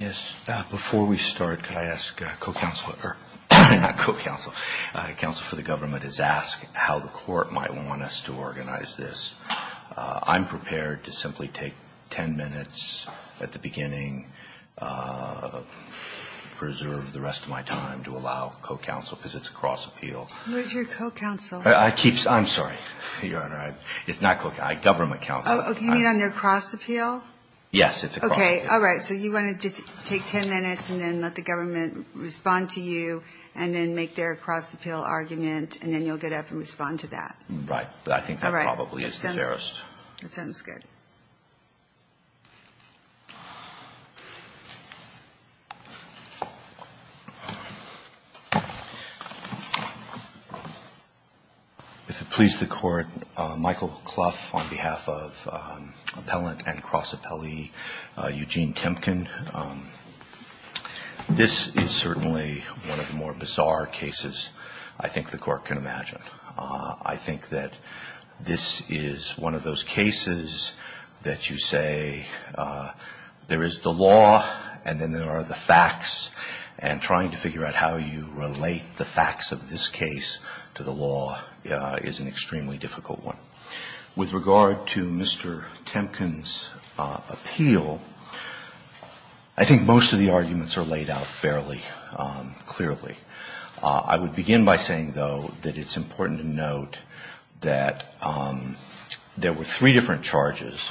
Yes, before we start, could I ask co-counselor, not co-counsel, counsel for the government is ask how the court might want us to organize this. I'm prepared to simply take ten minutes at the beginning, preserve the rest of my time to allow co-counsel because it's a cross appeal. Where's your co-counsel? I'm sorry, Your Honor, it's not co-counsel, government counsel. Oh, you mean on their cross appeal? Yes, it's a cross appeal. Okay, all right, so you want to just take ten minutes and then let the government respond to you and then make their cross appeal argument and then you'll get up and respond to that. Right, but I think that probably is the fairest. All right, that sounds good. If it please the Court, Michael Clough on behalf of appellant and cross appellee Eugene Temkin. This is certainly one of the more bizarre cases I think the Court can imagine. I think that this is one of those cases that you say there is the law and then there are the facts and trying to figure out how you relate the facts of this case to the law is an extremely difficult one. With regard to Mr. Temkin's appeal, I think most of the arguments are laid out fairly clearly. I would begin by saying, though, that it's important to note that there were three different charges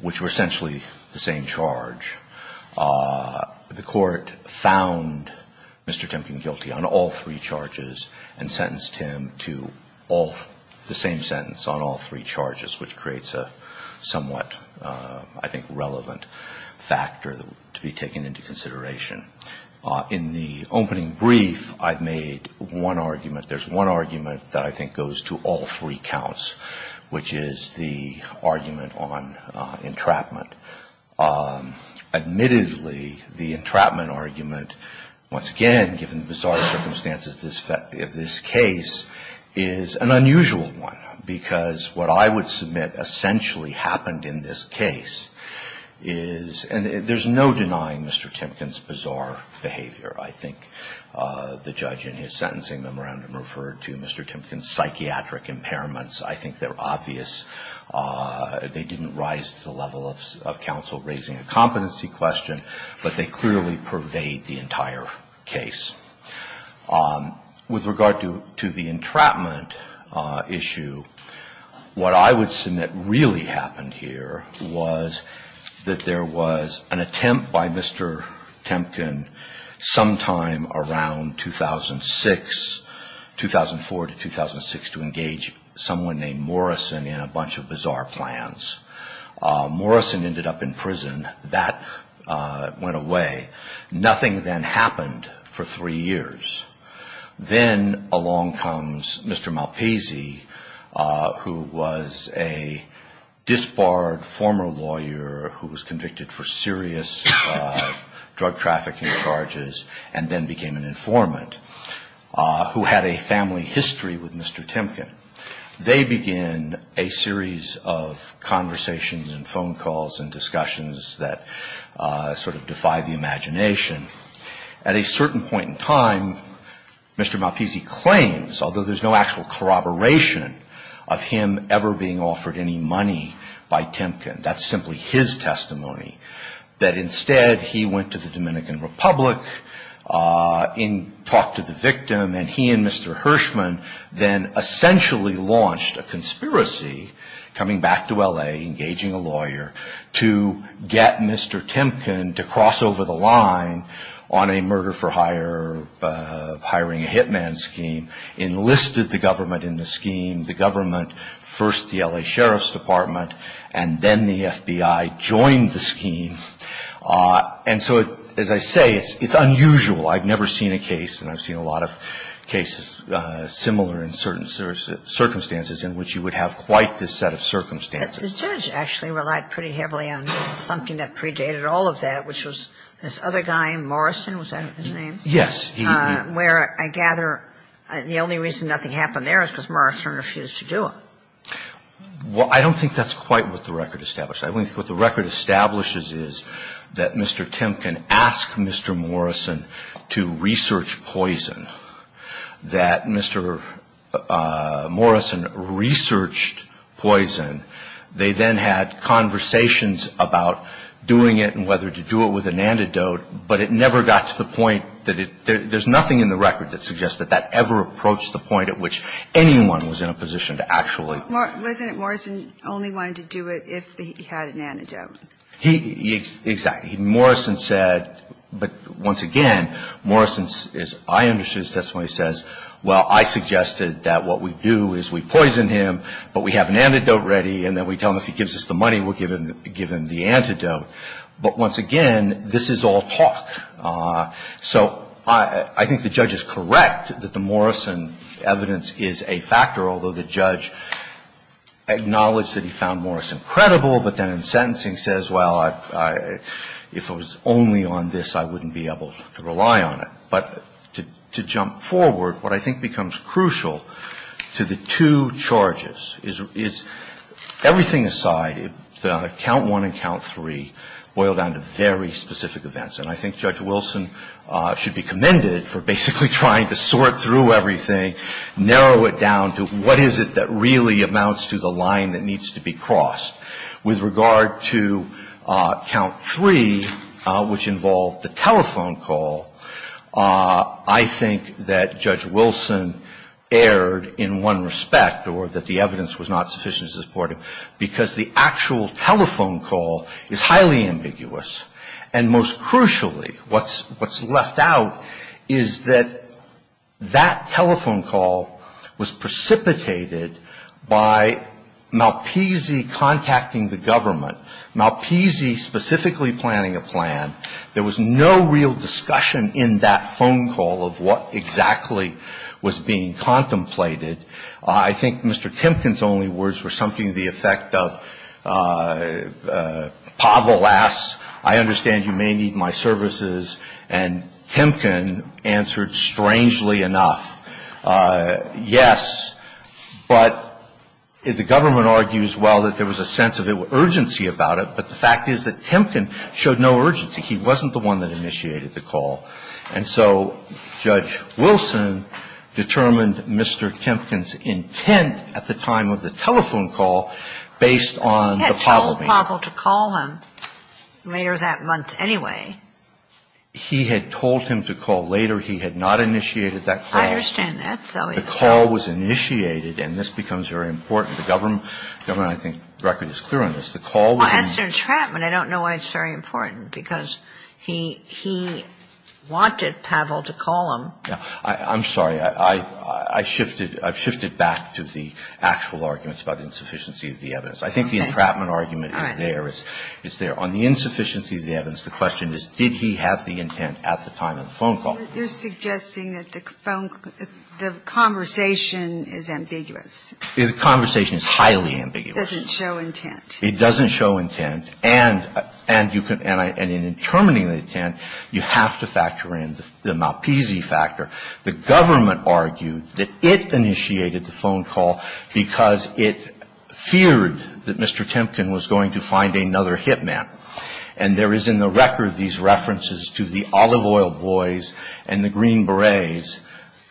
which were essentially the same charge. The Court found Mr. Temkin guilty on all three charges and sentenced him to the same sentence on all three charges, which creates a somewhat, I think, relevant factor to be taken into consideration. In the opening brief, I've made one argument. There's one argument that I think goes to all three counts, which is the argument on entrapment. Admittedly, the entrapment argument, once again, given the bizarre circumstances of this case, is an unusual one because what I would submit essentially happened in this case is, and there's no denying Mr. Temkin's bizarre behavior. I think the judge in his sentencing memorandum referred to Mr. Temkin's psychiatric impairments. I think they're obvious. They didn't rise to the level of counsel raising a competency question, but they clearly pervade the entire case. With regard to the entrapment issue, what I would submit really happened here was that there was an attempt by Mr. Temkin sometime around 2006, 2004 to 2006, to engage someone named Morrison in a bunch of bizarre plans. Morrison ended up in prison. That went away. Nothing then happened for three years. Then along comes Mr. Malpaisy, who was a disbarred former lawyer who was convicted for serious drug trafficking charges and then became an informant, who had a family history with Mr. Temkin. They begin a series of conversations and phone calls and discussions that sort of defy the imagination. At a certain point in time, Mr. Malpaisy claims, although there's no actual corroboration of him ever being offered any money by Temkin, that's simply his testimony, that instead he went to the Dominican Republic and talked to the victim. And he and Mr. Hirschman then essentially launched a conspiracy, coming back to L.A., engaging a lawyer, to get Mr. Temkin to cross over the line on a murder for hiring a hitman scheme, enlisted the government in the scheme. The government, first the L.A. Sheriff's Department, and then the FBI, joined the scheme. And so, as I say, it's unusual. I've never seen a case, and I've seen a lot of cases similar in certain circumstances, in which you would have quite this set of circumstances. The judge actually relied pretty heavily on something that predated all of that, which was this other guy, Morrison. Was that his name? Yes. Well, I don't think that's quite what the record establishes. I think what the record establishes is that Mr. Temkin asked Mr. Morrison to research poison, that Mr. Morrison researched poison. They then had conversations about doing it and whether to do it with an antidote, but it never got to the point that it – there's nothing in the record that suggests that that ever approached the point at which anyone was in a position to actually Wasn't it Morrison only wanted to do it if he had an antidote? Exactly. Morrison said – but once again, Morrison, as I understood his testimony, says, well, I suggested that what we do is we poison him, but we have an antidote ready, and then we tell him if he gives us the money, we'll give him the antidote. But once again, this is all talk. So I think the judge is correct that the Morrison evidence is a factor, although the judge acknowledged that he found Morrison credible, but then in sentencing says, well, if it was only on this, I wouldn't be able to rely on it. But to jump forward, what I think becomes crucial to the two charges is, everything aside, Count I and Count III boil down to very specific events. And I think Judge Wilson should be commended for basically trying to sort through everything, narrow it down to what is it that really amounts to the line that needs to be crossed. With regard to Count III, which involved the telephone call, I think that Judge Wilson erred in one respect, or that the evidence was not sufficient to support him, because the actual telephone call is highly ambiguous. And most crucially, what's left out is that that telephone call was precipitated by Malpisi contacting the government, Malpisi specifically planning a plan. There was no real discussion in that phone call of what exactly was being contemplated. I think Mr. Timken's only words were something to the effect of, Pavel asks, I understand you may need my services. And Timken answered strangely enough, yes. But the government argues, well, that there was a sense of urgency about it. But the fact is that Timken showed no urgency. He wasn't the one that initiated the call. And so Judge Wilson determined Mr. Timken's intent at the time of the telephone call based on the Pavel meeting. He had told Pavel to call him later that month anyway. He had told him to call later. He had not initiated that call. I understand that. The call was initiated, and this becomes very important. The government, I think, the record is clear on this. The call was initiated. Ginsburg. Well, as to entrapment, I don't know why it's very important, because he wanted Pavel to call him. Verrilli, I'm sorry. I shifted back to the actual arguments about insufficiency of the evidence. I think the entrapment argument is there. It's there. On the insufficiency of the evidence, the question is, did he have the intent at the time of the phone call? You're suggesting that the conversation is ambiguous. The conversation is highly ambiguous. It doesn't show intent. It doesn't show intent. And in determining the intent, you have to factor in the Malpese factor. The government argued that it initiated the phone call because it feared that Mr. Timken was going to find another hit man. And there is in the record these references to the olive oil boys and the green berets.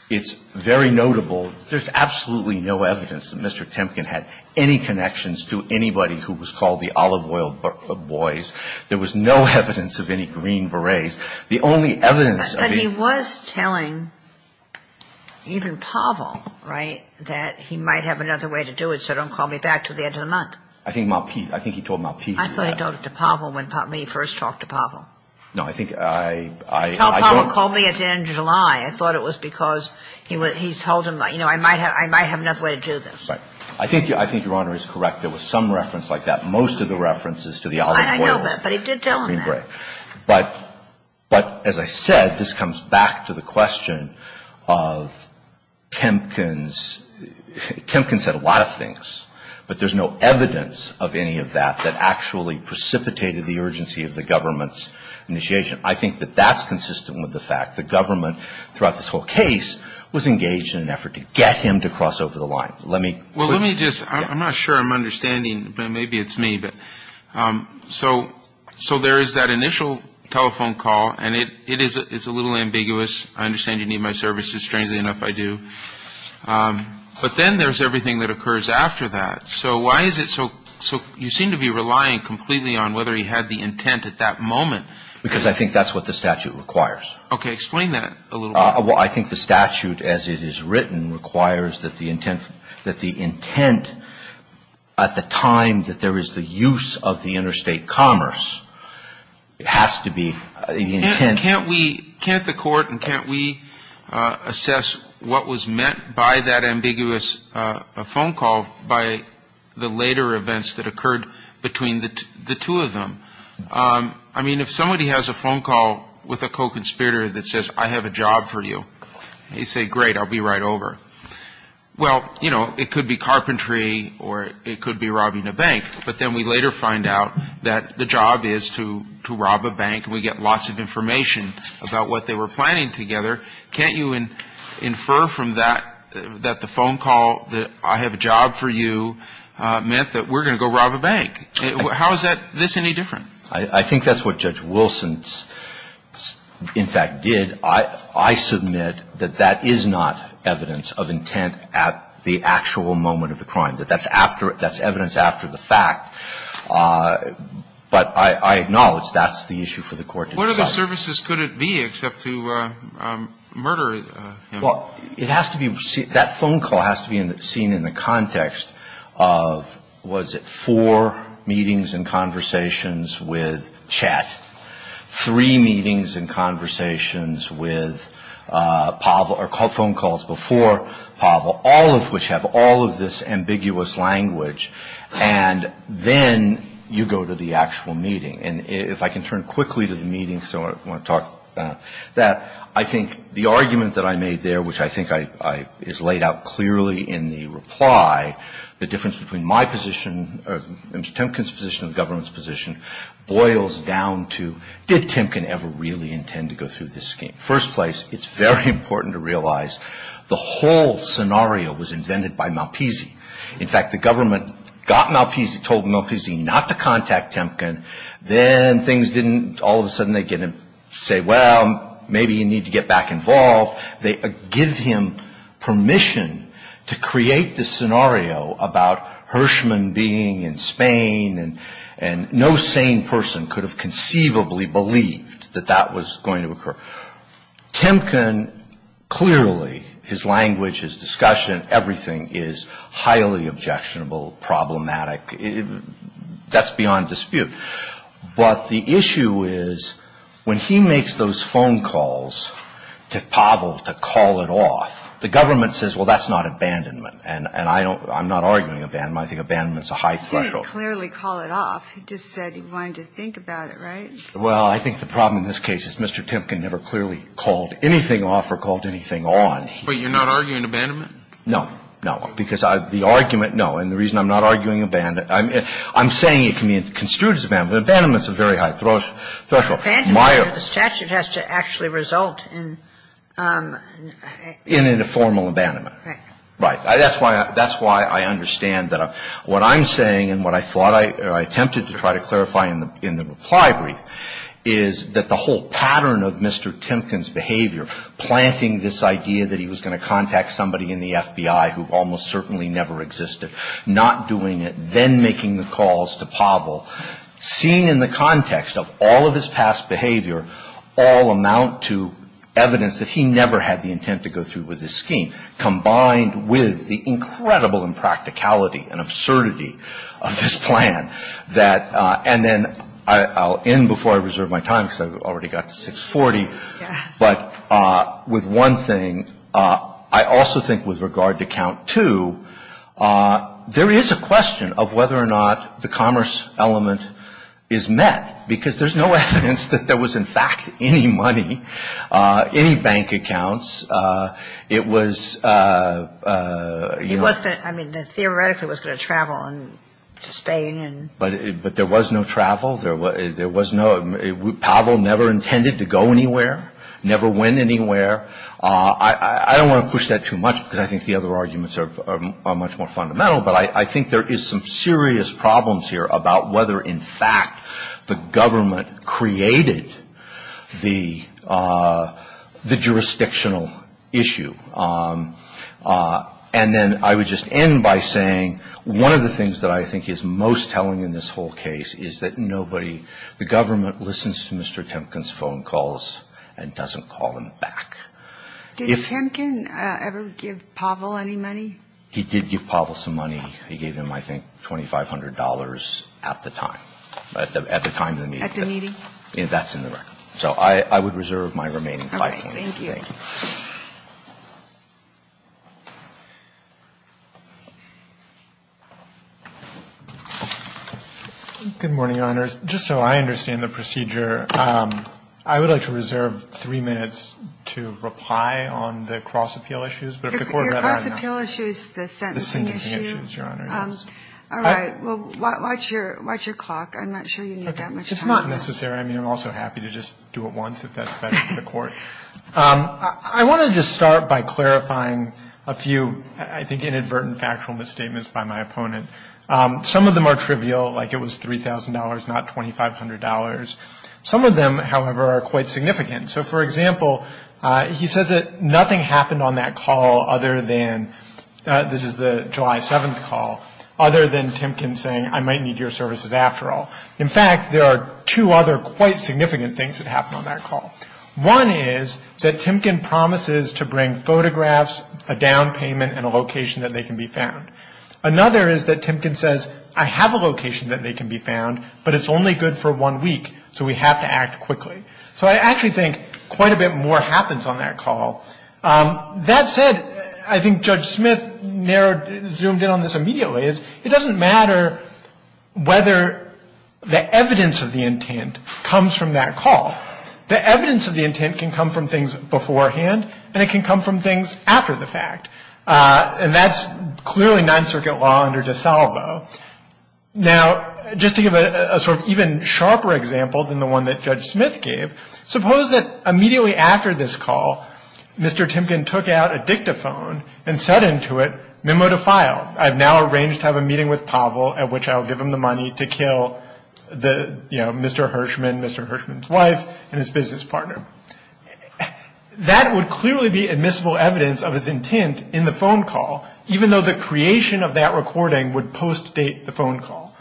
It's very notable. There's absolutely no evidence that Mr. Timken had any connections to anybody who was called the olive oil boys. There was no evidence of any green berets. The only evidence of the ---- But he was telling even Pavel, right, that he might have another way to do it, so don't call me back until the end of the month. I think Malpese. I think he told Malpese that. I thought he told it to Pavel when he first talked to Pavel. No, I think I ---- He told Pavel, call me at the end of July. I thought it was because he's told him, you know, I might have another way to do this. I think Your Honor is correct. There was some reference like that. Most of the references to the olive oil ---- I know that, but he did tell him that. But as I said, this comes back to the question of Timken's ---- Timken said a lot of things. But there's no evidence of any of that that actually precipitated the urgency of the government's initiation. I think that that's consistent with the fact the government throughout this whole case was engaged in an effort to get him to cross over the line. Let me ---- Well, let me just ---- I'm not sure I'm understanding, but maybe it's me. So there is that initial telephone call, and it is a little ambiguous. I understand you need my services. Strangely enough, I do. But then there's everything that occurs after that. So why is it so you seem to be relying completely on whether he had the intent at that moment. Because I think that's what the statute requires. Okay. Explain that a little bit. Well, I think the statute as it is written requires that the intent at the time that there is the use of the interstate commerce has to be the intent ---- Can't the court and can't we assess what was meant by that ambiguous phone call by the later events that occurred between the two of them? I mean, if somebody has a phone call with a co-conspirator that says, I have a job for you, they say, great, I'll be right over. Well, you know, it could be carpentry or it could be robbing a bank. But then we later find out that the job is to rob a bank, and we get lots of information about what they were planning together. Can't you infer from that that the phone call that I have a job for you meant that we're going to go rob a bank? How is this any different? I think that's what Judge Wilson, in fact, did. I submit that that is not evidence of intent at the actual moment of the crime, that that's evidence after the fact. But I acknowledge that's the issue for the court to decide. What other services could it be except to murder him? Well, it has to be ---- that phone call has to be seen in the context of, was it four meetings and conversations with Chet, three meetings and conversations with Pavel, or phone calls before Pavel, all of which have all of this ambiguous language. And then you go to the actual meeting. And if I can turn quickly to the meeting, because I want to talk about that. I think the argument that I made there, which I think is laid out clearly in the reply, the difference between my position or Mr. Temkin's position and the government's position boils down to, did Temkin ever really intend to go through this scheme? First place, it's very important to realize the whole scenario was invented by Malpisi. In fact, the government got Malpisi, told Malpisi not to contact Temkin. Then things didn't all of a sudden, they didn't say, well, maybe you need to get back involved. They give him permission to create this scenario about Hirschman being in Spain, and no sane person could have conceivably believed that that was going to occur. Temkin, clearly, his language, his discussion, everything is highly objectionable, problematic. That's beyond dispute. But the issue is when he makes those phone calls to Pavel to call it off, the government says, well, that's not abandonment. And I don't ‑‑ I'm not arguing abandonment. I think abandonment is a high threshold. He didn't clearly call it off. He just said he wanted to think about it, right? Well, I think the problem in this case is Mr. Temkin never clearly called anything off or called anything on. But you're not arguing abandonment? No. No. Because the argument, no. And the reason I'm not arguing abandonment, I'm saying it can be construed as abandonment. Abandonment is a very high threshold. Abandonment under the statute has to actually result in ‑‑ In a formal abandonment. Right. Right. That's why I understand that what I'm saying and what I thought I ‑‑ or I attempted to try to clarify in the reply brief is that the whole pattern of Mr. Temkin's behavior, planting this idea that he was going to contact somebody in the FBI who almost certainly never existed, not doing it, then making the calls to Pavel, seen in the context of all of his past behavior, all amount to evidence that he never had the intent to go through with this scheme, combined with the incredible impracticality and absurdity of this plan that ‑‑ and then I'll end before I reserve my time because I've already got to 640. Yeah. But with one thing, I also think with regard to count two, there is a question of whether or not the commerce element is met, because there's no evidence that there was in fact any money, any bank accounts. It was ‑‑ It was ‑‑ I mean, theoretically it was going to travel to Spain. But there was no travel. There was no ‑‑ Pavel never intended to go anywhere, never went anywhere. I don't want to push that too much because I think the other arguments are much more fundamental, but I think there is some serious problems here about whether in fact the government created the jurisdictional issue. And then I would just end by saying one of the things that I think is most telling in this whole case is that nobody ‑‑ the government listens to Mr. Kempkin's phone calls and doesn't call him back. Did Kempkin ever give Pavel any money? He did give Pavel some money. He gave him, I think, $2,500 at the time, at the time of the meeting. At the meeting? That's in the record. So I would reserve my remaining five minutes. All right. Thank you. Thank you. Good morning, Your Honors. Just so I understand the procedure, I would like to reserve three minutes to reply on the cross appeal issues. But if the Court ‑‑ Your cross appeal issue is the sentencing issue. The sentencing issue, Your Honor, yes. All right. Well, watch your clock. I'm not sure you need that much time. It's not necessary. I want to just start by clarifying a few, I think, inadvertent factual misstatements by my opponent. Some of them are trivial, like it was $3,000, not $2,500. Some of them, however, are quite significant. So, for example, he says that nothing happened on that call other than ‑‑ this is the July 7th call, other than Kempkin saying, I might need your services after all. In fact, there are two other quite significant things that happened on that call. One is that Kempkin promises to bring photographs, a down payment, and a location that they can be found. Another is that Kempkin says, I have a location that they can be found, but it's only good for one week, so we have to act quickly. So I actually think quite a bit more happens on that call. That said, I think Judge Smith narrowed, zoomed in on this immediately, is it doesn't matter whether the evidence of the intent comes from that call. The evidence of the intent can come from things beforehand, and it can come from things after the fact. And that's clearly Ninth Circuit law under DeSalvo. Now, just to give a sort of even sharper example than the one that Judge Smith gave, suppose that immediately after this call, Mr. Kempkin took out a dictaphone and said into it, memo to file. I've now arranged to have a meeting with Pavel at which I'll give him the money to kill the, you know, Mr. Hirshman, Mr. Hirshman's wife, and his business partner. That would clearly be admissible evidence of his intent in the phone call, even though the creation of that recording would post-date the phone call.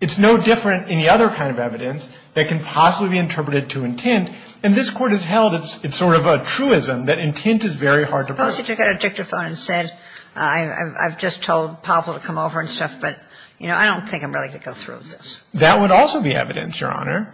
It's no different in the other kind of evidence that can possibly be interpreted to intent, and this Court has held it's sort of a truism that intent is very hard to find. So suppose he took out a dictaphone and said, I've just told Pavel to come over and stuff, but, you know, I don't think I'm ready to go through with this. That would also be evidence, Your Honor.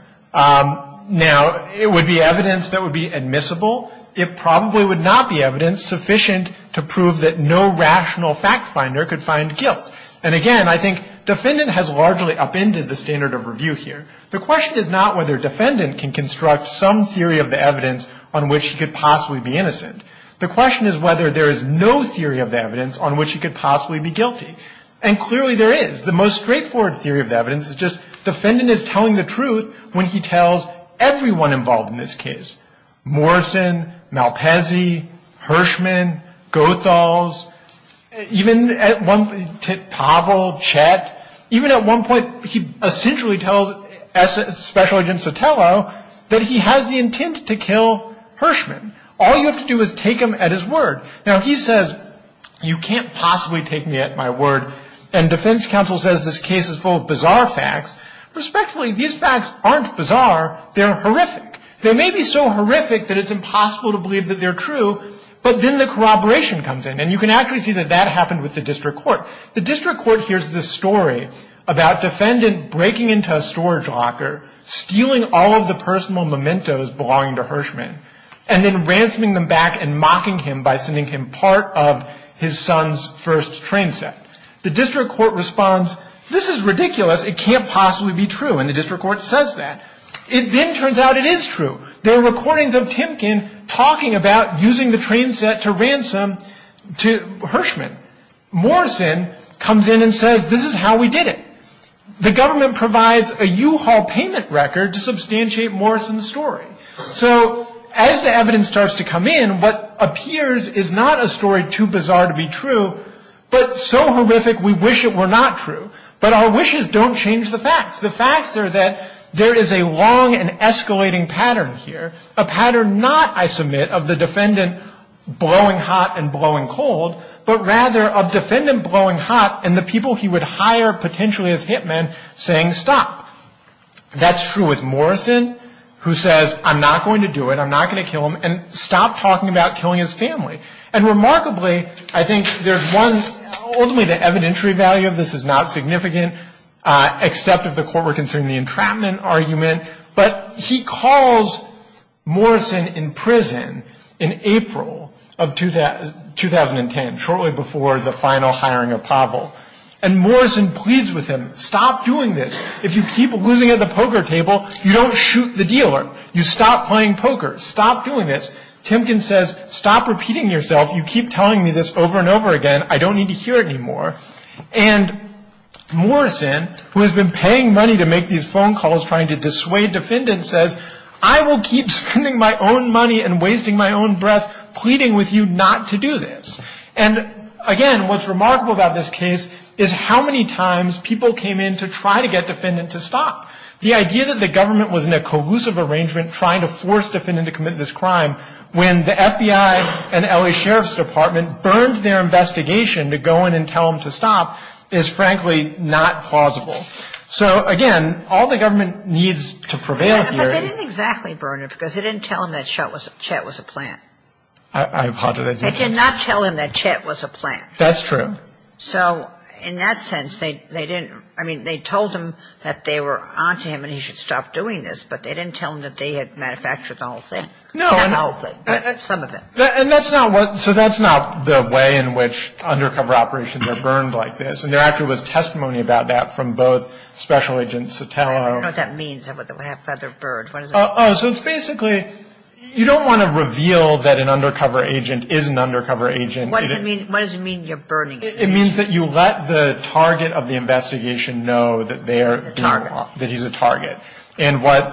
Now, it would be evidence that would be admissible. It probably would not be evidence sufficient to prove that no rational fact finder could find guilt. And again, I think defendant has largely upended the standard of review here. The question is not whether defendant can construct some theory of the evidence on which he could possibly be innocent. The question is whether there is no theory of the evidence on which he could possibly be guilty. And clearly there is. The most straightforward theory of the evidence is just defendant is telling the truth when he tells everyone involved in this case, Morrison, Malpezy, Hirschman, Goethals, even at one point, Pavel, Chet. Even at one point, he essentially tells Special Agent Sotelo that he has the intent to kill Hirschman. All you have to do is take him at his word. Now, he says, you can't possibly take me at my word. And defense counsel says this case is full of bizarre facts. Respectfully, these facts aren't bizarre. They're horrific. They may be so horrific that it's impossible to believe that they're true, but then the corroboration comes in. And you can actually see that that happened with the district court. The district court hears this story about defendant breaking into a storage locker, stealing all of the personal mementos belonging to Hirschman. And then ransoming them back and mocking him by sending him part of his son's first train set. The district court responds, this is ridiculous. It can't possibly be true. And the district court says that. It then turns out it is true. There are recordings of Timken talking about using the train set to ransom Hirschman. Morrison comes in and says, this is how we did it. The government provides a U-Haul payment record to substantiate Morrison's story. So as the evidence starts to come in, what appears is not a story too bizarre to be true, but so horrific we wish it were not true. But our wishes don't change the facts. The facts are that there is a long and escalating pattern here, a pattern not, I submit, of the defendant blowing hot and blowing cold, but rather of defendant blowing hot and the people he would hire potentially as hit men saying stop. That's true with Morrison, who says, I'm not going to do it. I'm not going to kill him. And stop talking about killing his family. And remarkably, I think there's one, ultimately the evidentiary value of this is not significant, except if the court were considering the entrapment argument. But he calls Morrison in prison in April of 2010, shortly before the final hiring of Pavel. And Morrison pleads with him, stop doing this. If you keep losing at the poker table, you don't shoot the dealer. You stop playing poker. Stop doing this. Timken says, stop repeating yourself. You keep telling me this over and over again. I don't need to hear it anymore. And Morrison, who has been paying money to make these phone calls trying to dissuade defendants, says, I will keep spending my own money and wasting my own breath pleading with you not to do this. And, again, what's remarkable about this case is how many times people came in to try to get defendant to stop. The idea that the government was in a collusive arrangement trying to force defendant to commit this crime, when the FBI and L.A. Sheriff's Department burned their investigation to go in and tell them to stop, is frankly not plausible. So, again, all the government needs to prevail here is. But they didn't exactly burn it, because it didn't tell them that Chet was a plant. I apologize. They did not tell them that Chet was a plant. That's true. So, in that sense, they didn't. I mean, they told them that they were on to him and he should stop doing this, but they didn't tell them that they had manufactured the whole thing. No. Some of it. And that's not what. So that's not the way in which undercover operations are burned like this. And there actually was testimony about that from both Special Agent Sotelo. I don't know what that means. What does that mean? Oh, so it's basically you don't want to reveal that an undercover agent is an undercover agent. What does it mean? What does it mean you're burning him? It means that you let the target of the investigation know that they are. That he's a target. That he's a target. And what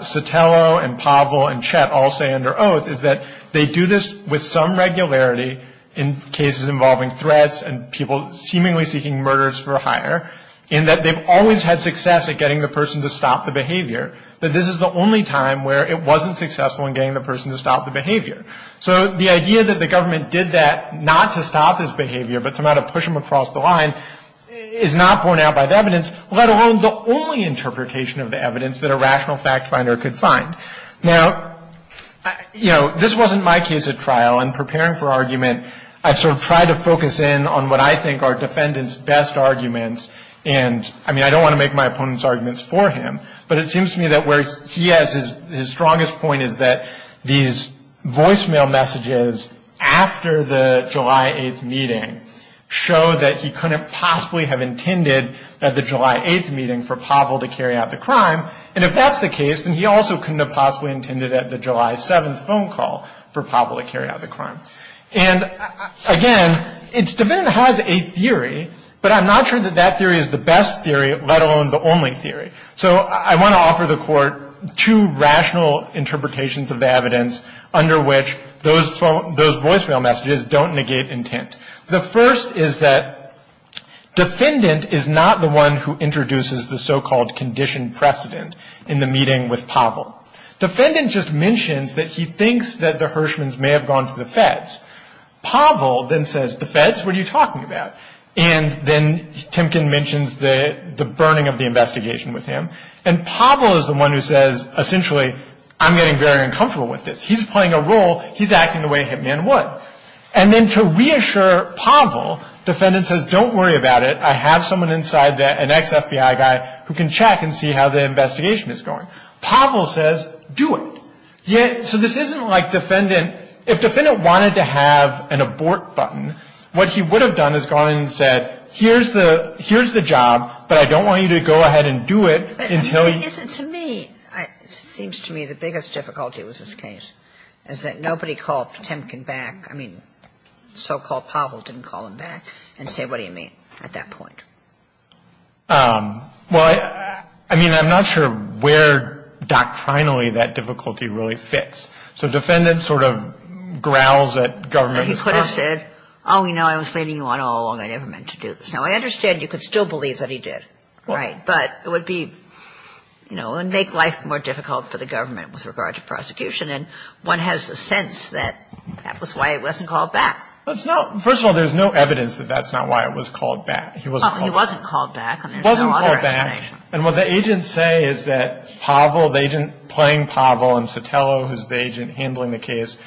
Sotelo and Pavel and Chet all say under oath is that they do this with some regularity in cases involving threats and people seemingly seeking murders for hire, in that they've always had success at getting the person to stop the behavior, but this is the only time where it wasn't successful in getting the person to stop the behavior. So the idea that the government did that not to stop his behavior, but somehow to push him across the line is not borne out by the evidence, let alone the only interpretation of the evidence that a rational fact finder could find. Now, you know, this wasn't my case at trial. In preparing for argument, I sort of tried to focus in on what I think are defendants' best arguments. And, I mean, I don't want to make my opponents' arguments for him, but it seems to me that where he has his strongest point is that these voicemail messages after the July 8th meeting show that he couldn't possibly have intended at the July 8th meeting for Pavel to carry out the crime. And if that's the case, then he also couldn't have possibly intended at the July 7th phone call for Pavel to carry out the crime. And, again, each defendant has a theory, but I'm not sure that that theory is the best theory, let alone the only theory. So I want to offer the Court two rational interpretations of the evidence under which those voicemail messages don't negate intent. The first is that defendant is not the one who introduces the so-called conditioned precedent in the meeting with Pavel. Defendant just mentions that he thinks that the Hirschmans may have gone to the feds. Pavel then says, the feds? What are you talking about? And then Timken mentions the burning of the investigation with him. And Pavel is the one who says, essentially, I'm getting very uncomfortable with this. He's playing a role. He's acting the way Hitman would. And then to reassure Pavel, defendant says, don't worry about it. I have someone inside, an ex-FBI guy, who can check and see how the investigation is going. Pavel says, do it. So this isn't like defendant – if defendant wanted to have an abort button, what he would have done is gone in and said, here's the – here's the job, but I don't want you to go ahead and do it until he – But is it to me – it seems to me the biggest difficulty with this case is that nobody called Timken back. I mean, so-called Pavel didn't call him back and say, what do you mean, at that point? Well, I mean, I'm not sure where doctrinally that difficulty really fits. So defendant sort of growls at government. Well, he could have said, oh, you know, I was leading you on all along. I never meant to do this. Now, I understand you could still believe that he did. Right. But it would be – you know, it would make life more difficult for the government with regard to prosecution. And one has a sense that that was why he wasn't called back. Well, it's not – first of all, there's no evidence that that's not why it was called back. He wasn't called back. He wasn't called back. And there's no other explanation. He wasn't called back. And what the agents say is that Pavel, the agent playing Pavel, and Sotelo, who's the agent handling the case,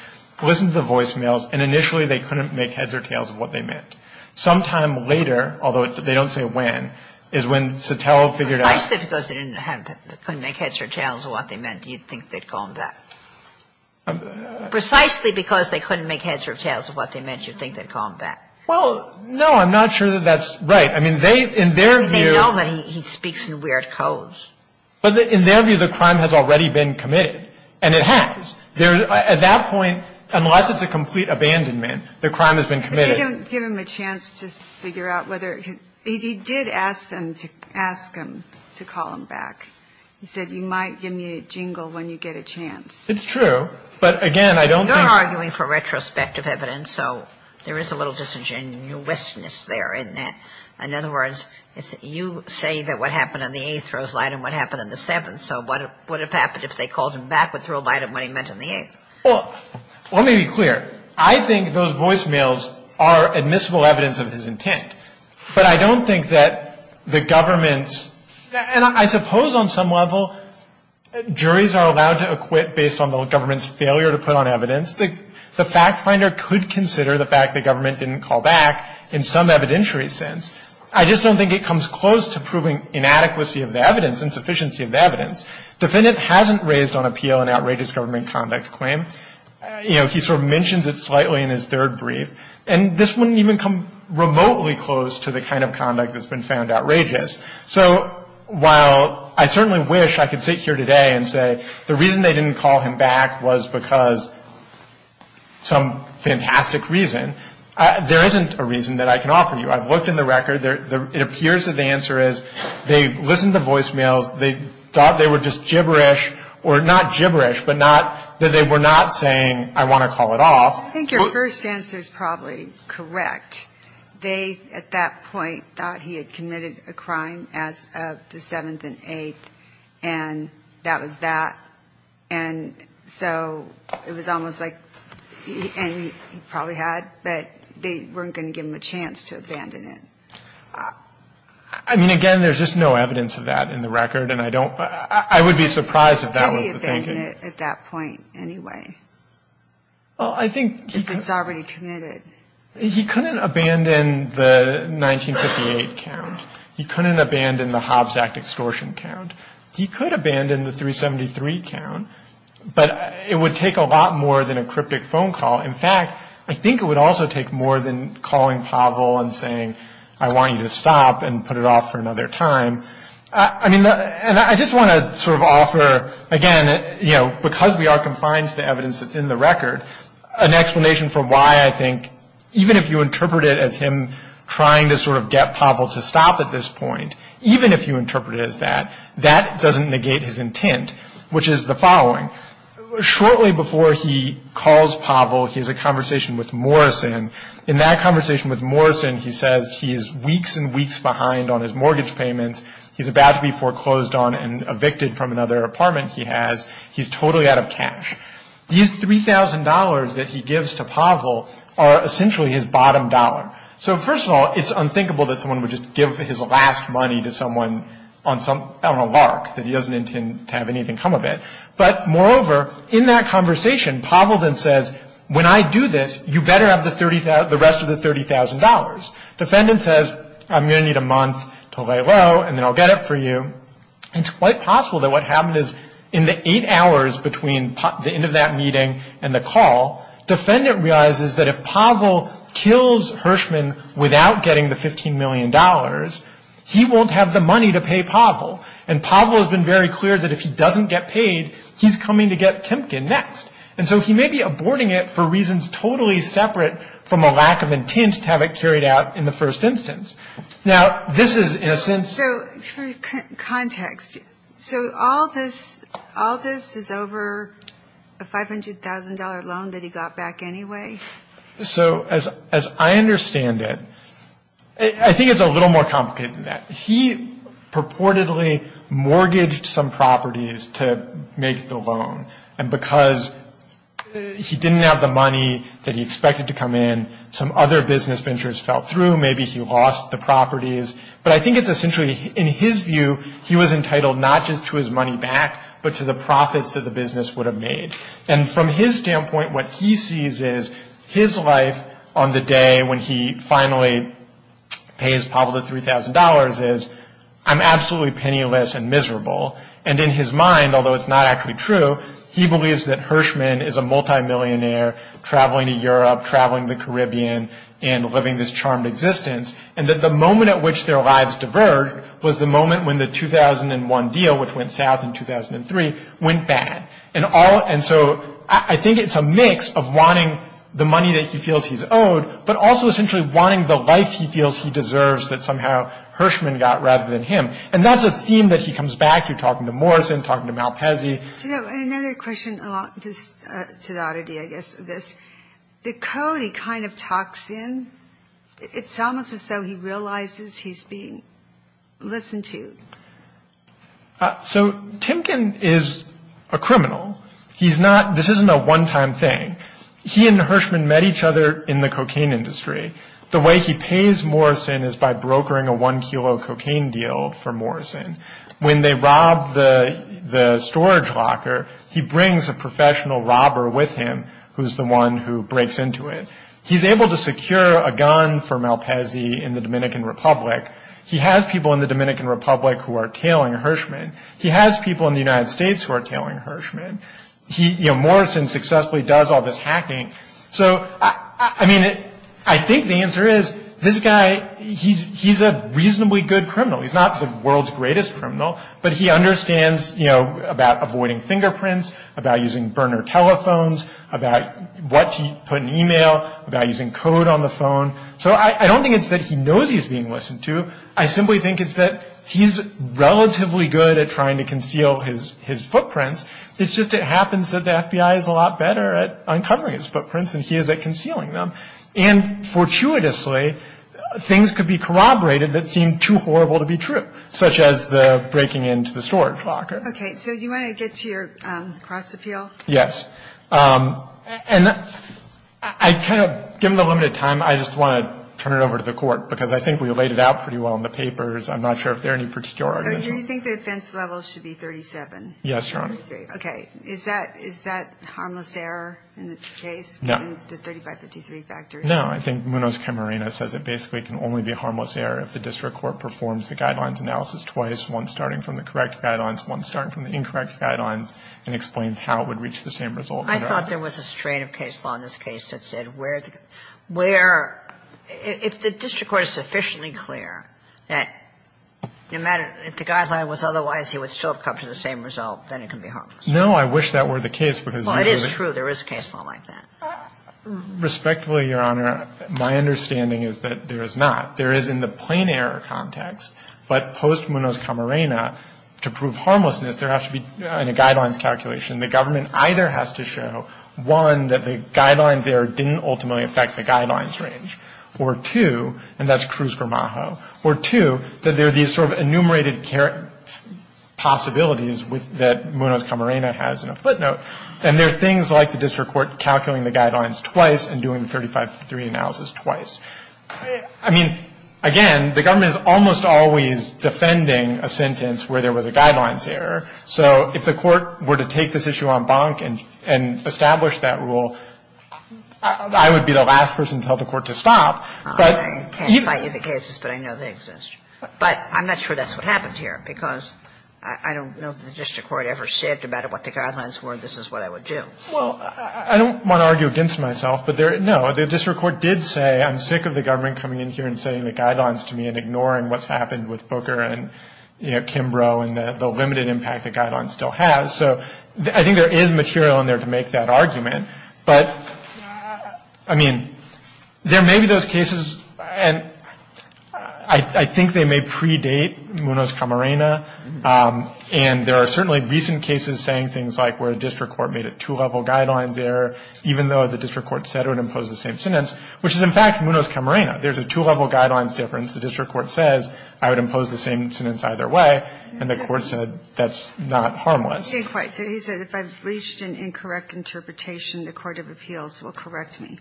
listened to the voicemails, and initially they couldn't make heads or tails of what they meant. Sometime later, although they don't say when, is when Sotelo figured out – Precisely because they didn't have – couldn't make heads or tails of what they meant, do you think they'd call him back? Precisely because they couldn't make heads or tails of what they meant, do you think they'd call him back? Well, no, I'm not sure that that's right. I mean, they – in their view – They know that he speaks in weird codes. But in their view, the crime has already been committed. And it has. At that point, unless it's a complete abandonment, the crime has been committed. But you don't give him a chance to figure out whether – he did ask them to ask him to call him back. He said, you might give me a jingle when you get a chance. It's true. But, again, I don't think – You're arguing for retrospective evidence, so there is a little disingenuousness there, isn't there? In other words, you say that what happened on the 8th throws light on what happened on the 7th. And so what would have happened if they called him back would throw light on what he meant on the 8th? Well, let me be clear. I think those voicemails are admissible evidence of his intent. But I don't think that the government's – and I suppose on some level, juries are allowed to acquit based on the government's failure to put on evidence. The fact finder could consider the fact the government didn't call back in some evidentiary sense. I just don't think it comes close to proving inadequacy of the evidence, insufficiency of the evidence. Defendant hasn't raised on appeal an outrageous government conduct claim. You know, he sort of mentions it slightly in his third brief. And this wouldn't even come remotely close to the kind of conduct that's been found outrageous. So while I certainly wish I could sit here today and say the reason they didn't call him back was because some fantastic reason, there isn't a reason that I can offer you. I've looked in the record. It appears that the answer is they listened to voicemails. They thought they were just gibberish, or not gibberish, but not that they were not saying, I want to call it off. I think your first answer is probably correct. They, at that point, thought he had committed a crime as of the 7th and 8th, and that was that. And so it was almost like, and he probably had, but they weren't going to give him a chance to abandon it. I mean, again, there's just no evidence of that in the record. And I don't, I would be surprised if that was the thinking. How did he abandon it at that point anyway? Well, I think he could. If it's already committed. He couldn't abandon the 1958 count. He couldn't abandon the Hobbs Act extortion count. He could abandon the 373 count, but it would take a lot more than a cryptic phone call. In fact, I think it would also take more than calling Pavel and saying, I want you to stop and put it off for another time. I mean, and I just want to sort of offer, again, you know, because we are compliant to the evidence that's in the record, an explanation for why I think, even if you interpret it as him trying to sort of get Pavel to stop at this point, even if you interpret it as that, that doesn't negate his intent, which is the following. Shortly before he calls Pavel, he has a conversation with Morrison. In that conversation with Morrison, he says he is weeks and weeks behind on his mortgage payments. He's about to be foreclosed on and evicted from another apartment he has. He's totally out of cash. These $3,000 that he gives to Pavel are essentially his bottom dollar. So first of all, it's unthinkable that someone would just give his last money to someone on a lark, that he doesn't intend to have anything come of it. But moreover, in that conversation, Pavel then says, when I do this, you better have the rest of the $30,000. Defendant says, I'm going to need a month to lay low, and then I'll get it for you. It's quite possible that what happened is in the eight hours between the end of that meeting and the call, defendant realizes that if Pavel kills Hirschman without getting the $15 million, he won't have the money to pay Pavel. And Pavel has been very clear that if he doesn't get paid, he's coming to get Kempkin next. And so he may be aborting it for reasons totally separate from a lack of intent to have it carried out in the first instance. Now, this is, in a sense ‑‑ Just for context, so all this is over a $500,000 loan that he got back anyway? So as I understand it, I think it's a little more complicated than that. He purportedly mortgaged some properties to make the loan, and because he didn't have the money that he expected to come in, some other business ventures fell through. Maybe he lost the properties. But I think it's essentially, in his view, he was entitled not just to his money back, but to the profits that the business would have made. And from his standpoint, what he sees is his life on the day when he finally pays Pavel the $3,000 is, I'm absolutely penniless and miserable. And in his mind, although it's not actually true, he believes that Hirschman is a multimillionaire, traveling to Europe, traveling the Caribbean, and living this charmed existence, and that the moment at which their lives diverged was the moment when the 2001 deal, which went south in 2003, went bad. And so I think it's a mix of wanting the money that he feels he's owed, but also essentially wanting the life he feels he deserves that somehow Hirschman got rather than him. And that's a theme that he comes back to, talking to Morrison, talking to Malpese. Another question to the oddity, I guess, of this. The code he kind of talks in, it's almost as though he realizes he's being listened to. So Timken is a criminal. This isn't a one-time thing. He and Hirschman met each other in the cocaine industry. The way he pays Morrison is by brokering a one-kilo cocaine deal for Morrison. When they robbed the storage locker, he brings a professional robber with him, who's the one who breaks into it. He's able to secure a gun for Malpese in the Dominican Republic. He has people in the Dominican Republic who are tailing Hirschman. He has people in the United States who are tailing Hirschman. Morrison successfully does all this hacking. So, I mean, I think the answer is this guy, he's a reasonably good criminal. He's not the world's greatest criminal, but he understands, you know, about avoiding fingerprints, about using burner telephones, about what to put in e-mail, about using code on the phone. So I don't think it's that he knows he's being listened to. I simply think it's that he's relatively good at trying to conceal his footprints. It's just it happens that the FBI is a lot better at uncovering his footprints than he is at concealing them. And, fortuitously, things could be corroborated that seem too horrible to be true, such as the breaking into the storage locker. Okay. So do you want to get to your cross appeal? Yes. And I kind of, given the limited time, I just want to turn it over to the Court, because I think we laid it out pretty well in the papers. I'm not sure if there are any particular arguments. So you think the offense level should be 37? Yes, Your Honor. Okay. Is that harmless error in this case? No. In the 3553 factor? No. I think Munoz-Camarena says it basically can only be harmless error if the district court performs the Guidelines analysis twice, one starting from the correct Guidelines, one starting from the incorrect Guidelines, and explains how it would reach the same result. I thought there was a strain of case law in this case that said where, if the district court is sufficiently clear that no matter, if the Guideline was otherwise, he would still have come to the same result, then it can be harmless. No. I wish that were the case. Well, it is true. There is case law like that. Respectfully, Your Honor, my understanding is that there is not. There is in the plain error context, but post-Munoz-Camarena, to prove harmlessness, there has to be a Guidelines calculation. The government either has to show, one, that the Guidelines error didn't ultimately affect the Guidelines range, or two, and that's Cruz-Gramajo, or two, that there are these sort of enumerated possibilities that Munoz-Camarena has in a footnote. And there are things like the district court calculating the Guidelines twice and doing the 35-3 analysis twice. I mean, again, the government is almost always defending a sentence where there was a Guidelines error. So if the court were to take this issue en banc and establish that rule, I would be the last person to tell the court to stop, but you can't. I can't cite you the cases, but I know they exist. But I'm not sure that's what happened here, because I don't know if the district court ever said, no matter what the Guidelines were, this is what I would do. Well, I don't want to argue against myself, but, no, the district court did say, I'm sick of the government coming in here and setting the Guidelines to me and ignoring what's happened with Booker and Kimbrough and the limited impact the Guidelines still has. So I think there is material in there to make that argument. But, I mean, there may be those cases, and I think they may predate Munoz-Camarena, and there are certainly recent cases saying things like where a district court made a two-level Guidelines error, even though the district court said it would impose the same sentence, which is, in fact, Munoz-Camarena. There's a two-level Guidelines difference. The district court says, I would impose the same sentence either way, and the court said that's not harmless. He didn't quite say that. He said, if I've reached an incorrect interpretation, the court of appeals will correct me.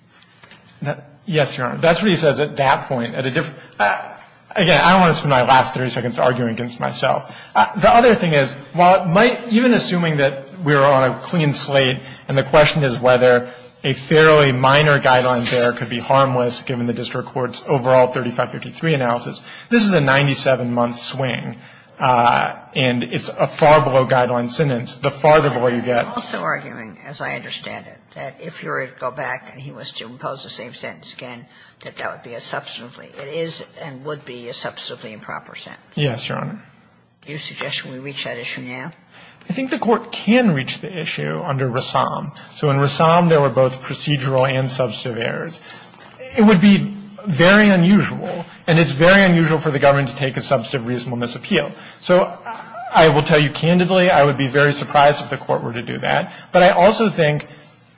Yes, Your Honor. That's what he says at that point. Again, I don't want to spend my last 30 seconds arguing against myself. The other thing is, while it might, even assuming that we're on a clean slate, and the question is whether a fairly minor Guidelines error could be harmless given the district court's overall 3553 analysis, this is a 97-month swing. And it's a far below Guidelines sentence. The farther below you get. I'm also arguing, as I understand it, that if you were to go back and he was to impose the same sentence again, that that would be a substantively – it is and would be a substantively improper sentence. Yes, Your Honor. Do you suggest we reach that issue now? I think the Court can reach the issue under Rassam. So in Rassam, there were both procedural and substantive errors. It would be very unusual, and it's very unusual for the government to take a substantive reasonableness appeal. So I will tell you candidly, I would be very surprised if the Court were to do that. But I also think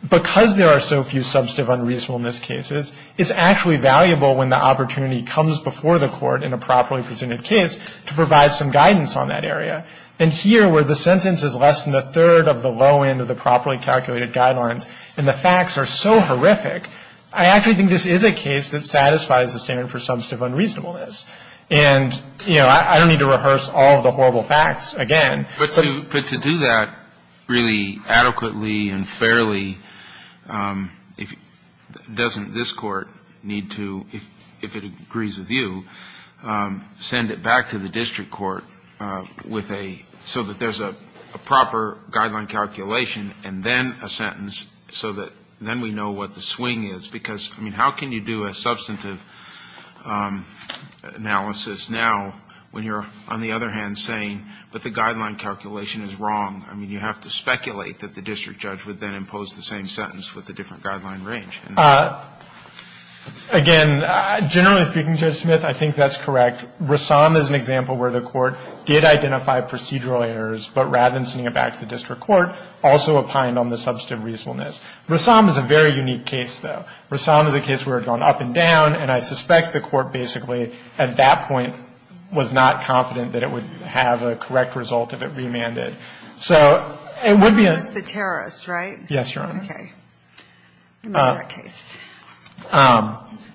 because there are so few substantive unreasonableness cases, it's actually valuable when the opportunity comes before the Court in a properly presented case to provide some guidance on that area. And here, where the sentence is less than a third of the low end of the properly calculated Guidelines, and the facts are so horrific, I actually think this is a case that satisfies the standard for substantive unreasonableness. And, you know, I don't need to rehearse all of the horrible facts again. But to do that really adequately and fairly, doesn't this Court need to, if it agrees with you, send it back to the district court with a so that there's a proper Guideline calculation and then a sentence so that then we know what the swing is? Because, I mean, how can you do a substantive analysis now when you're, on the other hand, saying, but the Guideline calculation is wrong? I mean, you have to speculate that the district judge would then impose the same sentence with a different Guideline range. Again, generally speaking, Judge Smith, I think that's correct. Rassam is an example where the Court did identify procedural errors, but rather than sending it back to the district court, also opined on the substantive reasonableness. Rassam is a very unique case, though. Rassam is a case where it had gone up and down, and I suspect the Court basically at that point was not confident that it would have a correct result if it remanded. So it would be a — So Rassam is the terrorist, right? Yes, Your Honor. Okay. In that case.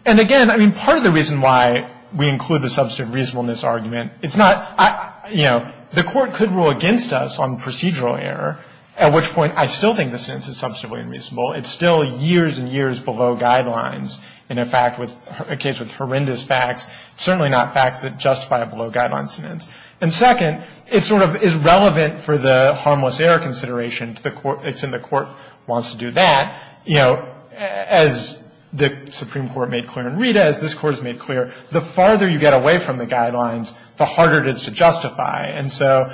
And, again, I mean, part of the reason why we include the substantive reasonableness argument, it's not — you know, the Court could rule against us on procedural error, at which point I still think the sentence is substantively unreasonable. It's still years and years below Guidelines. In a case with horrendous facts, certainly not facts that justify a below Guidelines sentence. And, second, it sort of is relevant for the harmless error consideration to the Court. It's in the Court wants to do that. You know, as the Supreme Court made clear in Rita, as this Court has made clear, the farther you get away from the Guidelines, the harder it is to justify. And so,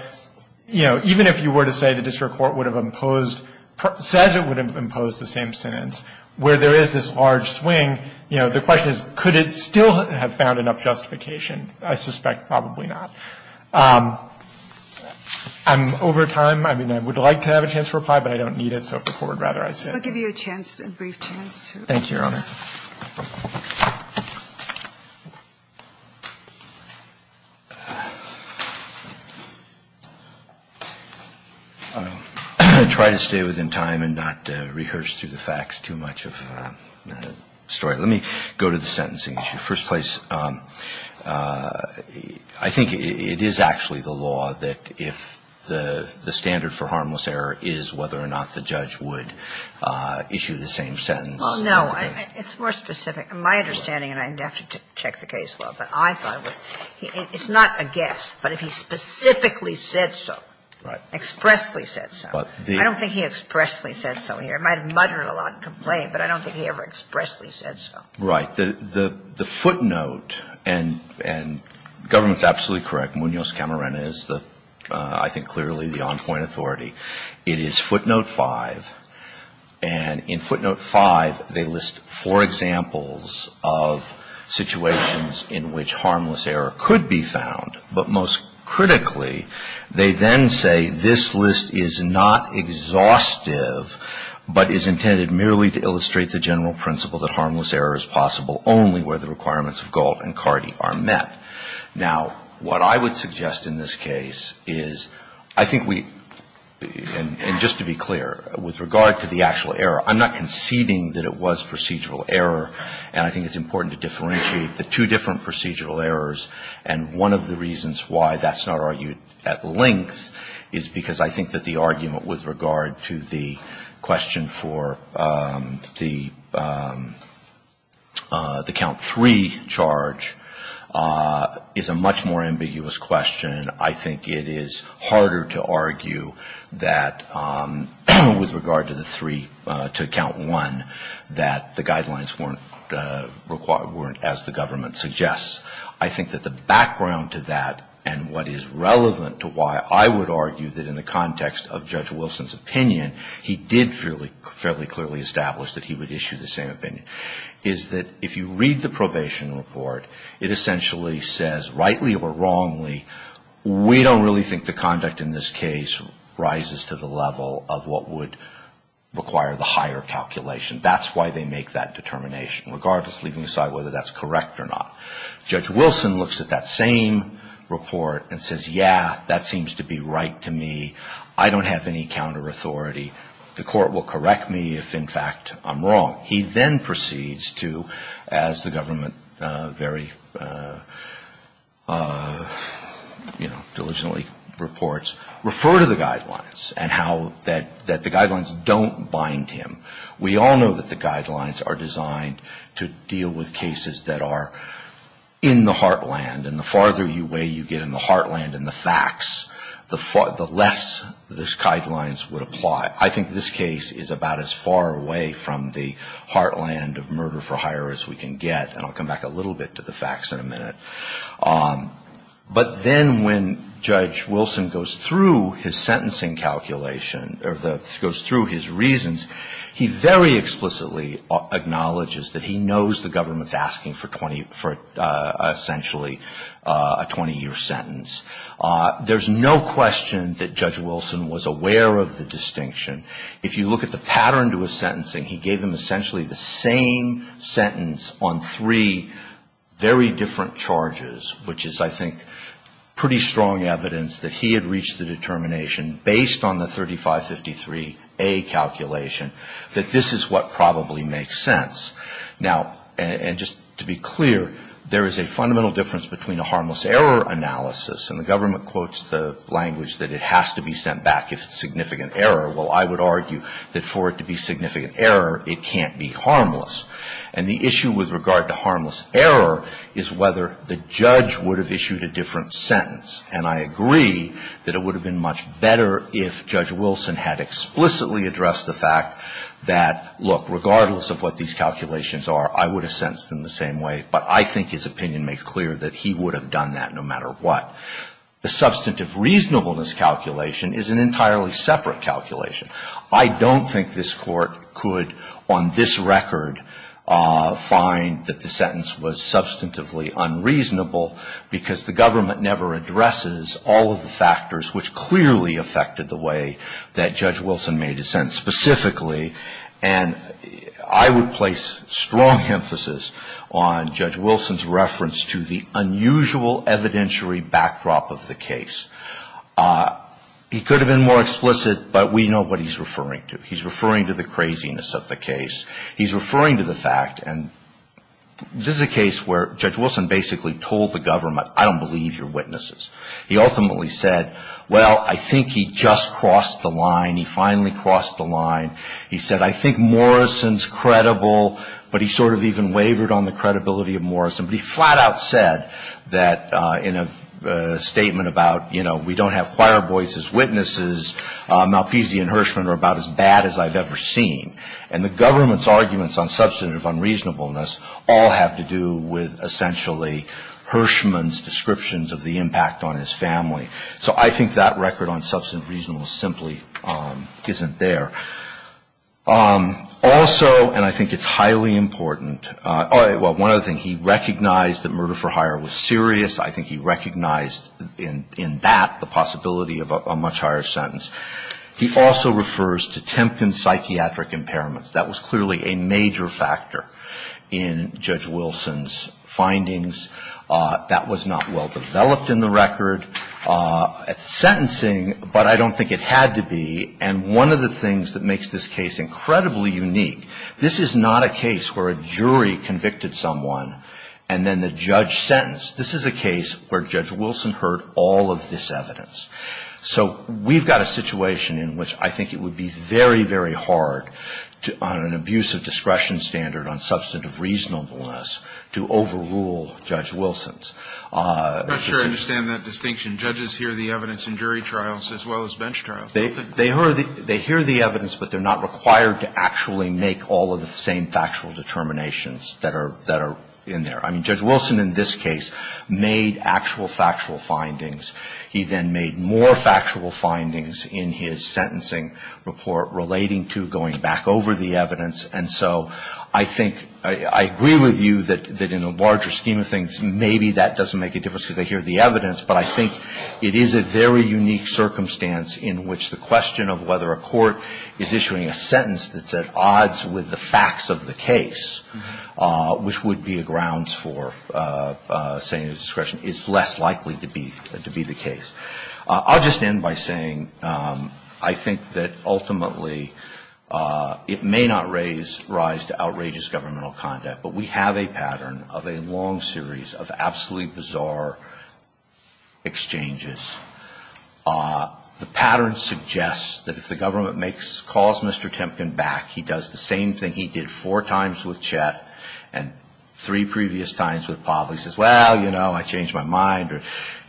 you know, even if you were to say the district court would have imposed — says it would impose the same sentence, where there is this large swing, you know, the question is, could it still have found enough justification? I suspect probably not. I'm over time. I mean, I would like to have a chance to reply, but I don't need it, so if the Court would rather I sit. I'll give you a chance, a brief chance. Thank you, Your Honor. I'll try to stay within time and not rehearse through the facts too much of the story. Let me go to the sentencing issue. First place, I think it is actually the law that if the standard for harmless error is whether or not the judge would issue the same sentence. Well, no. It's more specific. My understanding, and I'd have to check the case law, but I thought it was, it's not a guess, but if he specifically said so, expressly said so. I don't think he expressly said so here. It might have muttered a lot and complained, but I don't think he ever expressly said so. Right. The footnote, and the government is absolutely correct, Munoz Camarena is the, I think clearly the on-point authority. It is footnote 5, and in footnote 5, they list four examples of situations in which harmless error could be found, but most critically, they then say this list is not exhaustive, but is intended merely to illustrate the general principle that harmless error is possible only where the requirements of Galt and Cardi are met. Now, what I would suggest in this case is, I think we, and just to be clear, with regard to the actual error, I'm not conceding that it was procedural error, and I think it's important to differentiate the two different procedural errors, and one of the reasons why that's not argued at length is because I think that the argument with regard to the question for the count three charge is a much more ambiguous question. I think it is harder to argue that with regard to the three, to count one, that the guidelines weren't as the government suggests. I think that the background to that and what is relevant to why I would argue that in the context of Judge Wilson's opinion, he did fairly clearly establish that he would issue the same opinion, is that if you read the probation report, it essentially says, rightly or wrongly, we don't really think the conduct in this case rises to the level of what would require the higher calculation. That's why they make that determination, regardless, leaving aside whether that's correct or not. Judge Wilson looks at that same report and says, yeah, that seems to be right to me. I don't have any counter-authority. The court will correct me if, in fact, I'm wrong. He then proceeds to, as the government very, you know, diligently reports, refer to the guidelines and how that the guidelines don't bind him. We all know that the guidelines are designed to deal with cases that are in the heartland. And the farther away you get in the heartland in the facts, the less those guidelines would apply. I think this case is about as far away from the heartland of murder for hire as we can get. And I'll come back a little bit to the facts in a minute. But then when Judge Wilson goes through his sentencing calculation, or goes through his reasons, he very explicitly acknowledges that he knows the government's asking for essentially a 20-year sentence. There's no question that Judge Wilson was aware of the distinction. If you look at the pattern to his sentencing, he gave him essentially the same sentence on three very different charges, which is, I think, pretty strong evidence that he had that this is what probably makes sense. Now, and just to be clear, there is a fundamental difference between a harmless error analysis, and the government quotes the language that it has to be sent back if it's significant error. Well, I would argue that for it to be significant error, it can't be harmless. And the issue with regard to harmless error is whether the judge would have issued a different sentence. And I agree that it would have been much better if Judge Wilson had explicitly addressed the fact that, look, regardless of what these calculations are, I would have sentenced him the same way. But I think his opinion makes clear that he would have done that no matter what. The substantive reasonableness calculation is an entirely separate calculation. I don't think this Court could, on this record, find that the sentence was substantively unreasonable because the government never addresses all of the factors which clearly affected the way that Judge Wilson made his sentence specifically. And I would place strong emphasis on Judge Wilson's reference to the unusual evidentiary backdrop of the case. He could have been more explicit, but we know what he's referring to. He's referring to the craziness of the case. He's referring to the fact, and this is a case where Judge Wilson basically told the government, I don't believe your witnesses. He ultimately said, well, I think he just crossed the line. He finally crossed the line. He said, I think Morrison's credible. But he sort of even wavered on the credibility of Morrison. But he flat out said that in a statement about, you know, we don't have choir boys as witnesses, Malpizzi and Hirschman are about as bad as I've ever seen. And the government's arguments on substantive unreasonableness all have to do with essentially Hirschman's descriptions of the impact on his family. So I think that record on substantive reasonableness simply isn't there. Also, and I think it's highly important, well, one other thing. He recognized that murder for hire was serious. I think he recognized in that the possibility of a much higher sentence. He also refers to Temkin's psychiatric impairments. That was clearly a major factor in Judge Wilson's findings. That was not well developed in the record. Sentencing, but I don't think it had to be. And one of the things that makes this case incredibly unique, this is not a case where a jury convicted someone and then the judge sentenced. This is a case where Judge Wilson heard all of this evidence. So we've got a situation in which I think it would be very, very hard on an abuse of discretion standard on substantive reasonableness to overrule Judge Wilson's. I'm not sure I understand that distinction. Judges hear the evidence in jury trials as well as bench trials. They hear the evidence, but they're not required to actually make all of the same factual determinations that are in there. I mean, Judge Wilson in this case made actual factual findings. He then made more factual findings in his sentencing report relating to going back over the evidence. And so I think I agree with you that in the larger scheme of things, maybe that doesn't make a difference because they hear the evidence. But I think it is a very unique circumstance in which the question of whether a court is issuing a sentence that's at odds with the facts of the case, which would be a grounds for saying that discretion is less likely to be the case. I'll just end by saying I think that ultimately it may not rise to outrageous governmental conduct, but we have a pattern of a long series of absolutely bizarre exchanges. The pattern suggests that if the government makes, calls Mr. Temkin back, he does the same thing he did four times with Chet and three previous times with Pavley. He says, well, you know, I changed my mind or,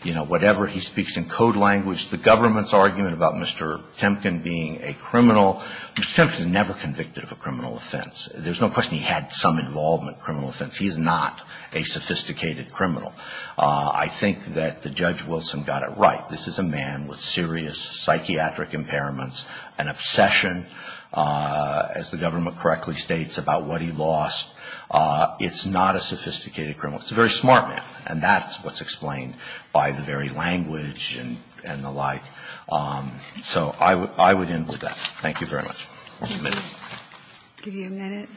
you know, whatever. He speaks in code language. The government's argument about Mr. Temkin being a criminal, Mr. Temkin was never convicted of a criminal offense. There's no question he had some involvement in a criminal offense. He is not a sophisticated criminal. I think that the Judge Wilson got it right. This is a man with serious psychiatric impairments, an obsession, as the government correctly states, about what he lost. It's not a sophisticated criminal. It's a very smart man, and that's what's explained by the very language and the like. So I would end with that. Thank you very much. I'll give you a minute.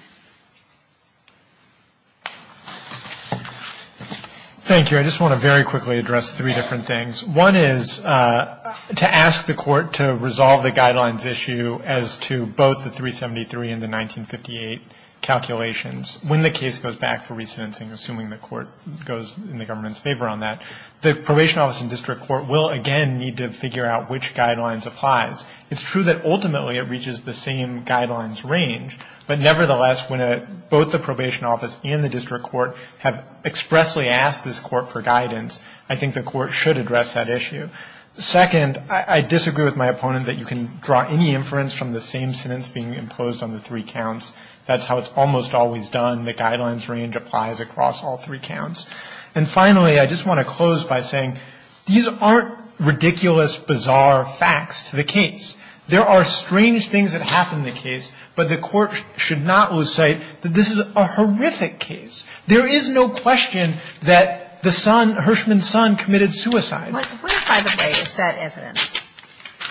Thank you. I just want to very quickly address three different things. One is to ask the Court to resolve the Guidelines issue as to both the 373 and the 1958 calculations. When the case goes back for re-sentencing, assuming the Court goes in the government's favor on that, the Probation Office and district court will again need to figure out which Guidelines applies. It's true that ultimately it reaches the same Guidelines range, but nevertheless, when both the Probation Office and the district court have expressly asked this Court for guidance, I think the Court should address that issue. Second, I disagree with my opponent that you can draw any inference from the same sentence being imposed on the three counts. That's how it's almost always done. The Guidelines range applies across all three counts. And finally, I just want to close by saying these aren't ridiculous, bizarre facts to the case. There are strange things that happen in the case, but the Court should not lose sight that this is a horrific case. There is no question that the son, Hirschman's son, committed suicide. But where, by the way, is that evidence?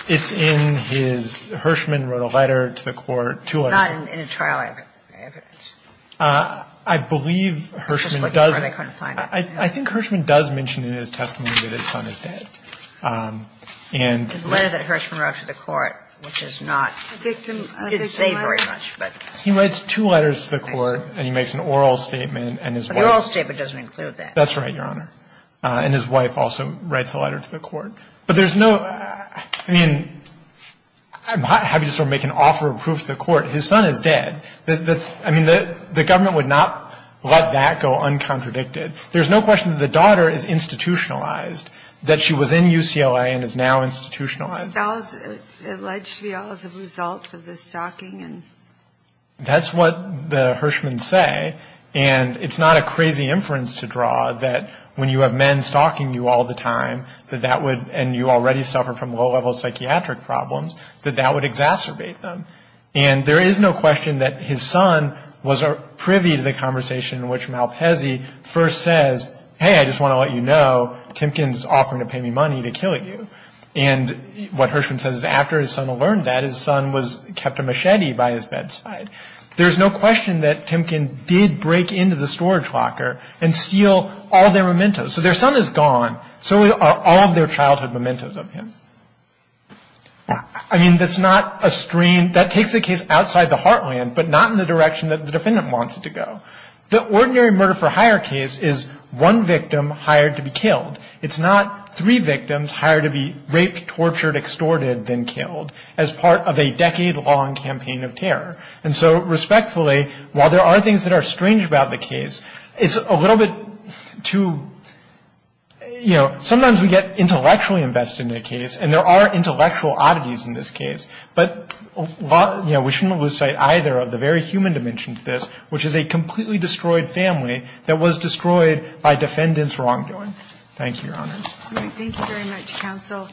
It's in his, Hirschman wrote a letter to the Court, two letters. It's not in a trial evidence. I believe Hirschman does. I think Hirschman does mention in his testimony that his son is dead. And the letter that Hirschman wrote to the Court, which is not, he didn't say very much, but. He writes two letters to the Court and he makes an oral statement and his wife. But the oral statement doesn't include that. That's right, Your Honor. And his wife also writes a letter to the Court. But there's no, I mean, I'm happy to sort of make an offer of proof to the Court. His son is dead. I mean, the government would not let that go uncontradicted. There's no question that the daughter is institutionalized. That she was in UCLA and is now institutionalized. It's alleged to be all as a result of the stalking and. That's what the Hirschman's say. And it's not a crazy inference to draw that when you have men stalking you all the time, that that would, and you already suffer from low-level psychiatric problems, that that would exacerbate them. And there is no question that his son was privy to the conversation in which Malpese first says, hey, I just want to let you know, Timken's offering to pay me money to kill you. And what Hirschman says is after his son learned that, his son was kept a machete by his bedside. There's no question that Timken did break into the storage locker and steal all their mementos. So their son is gone. So are all of their childhood mementos of him. I mean, that's not a strange, that takes a case outside the heartland, but not in the direction that the defendant wants it to go. The ordinary murder-for-hire case is one victim hired to be killed. It's not three victims hired to be raped, tortured, extorted, then killed, as part of a decade-long campaign of terror. And so respectfully, while there are things that are strange about the case, it's a little bit too, you know, sometimes we get intellectually invested in a case, and there are intellectual oddities in this case. But, you know, we shouldn't lose sight either of the very human dimension to this, which is a completely destroyed family that was destroyed by defendant's wrongdoing. Thank you, Your Honors. Thank you very much, counsel.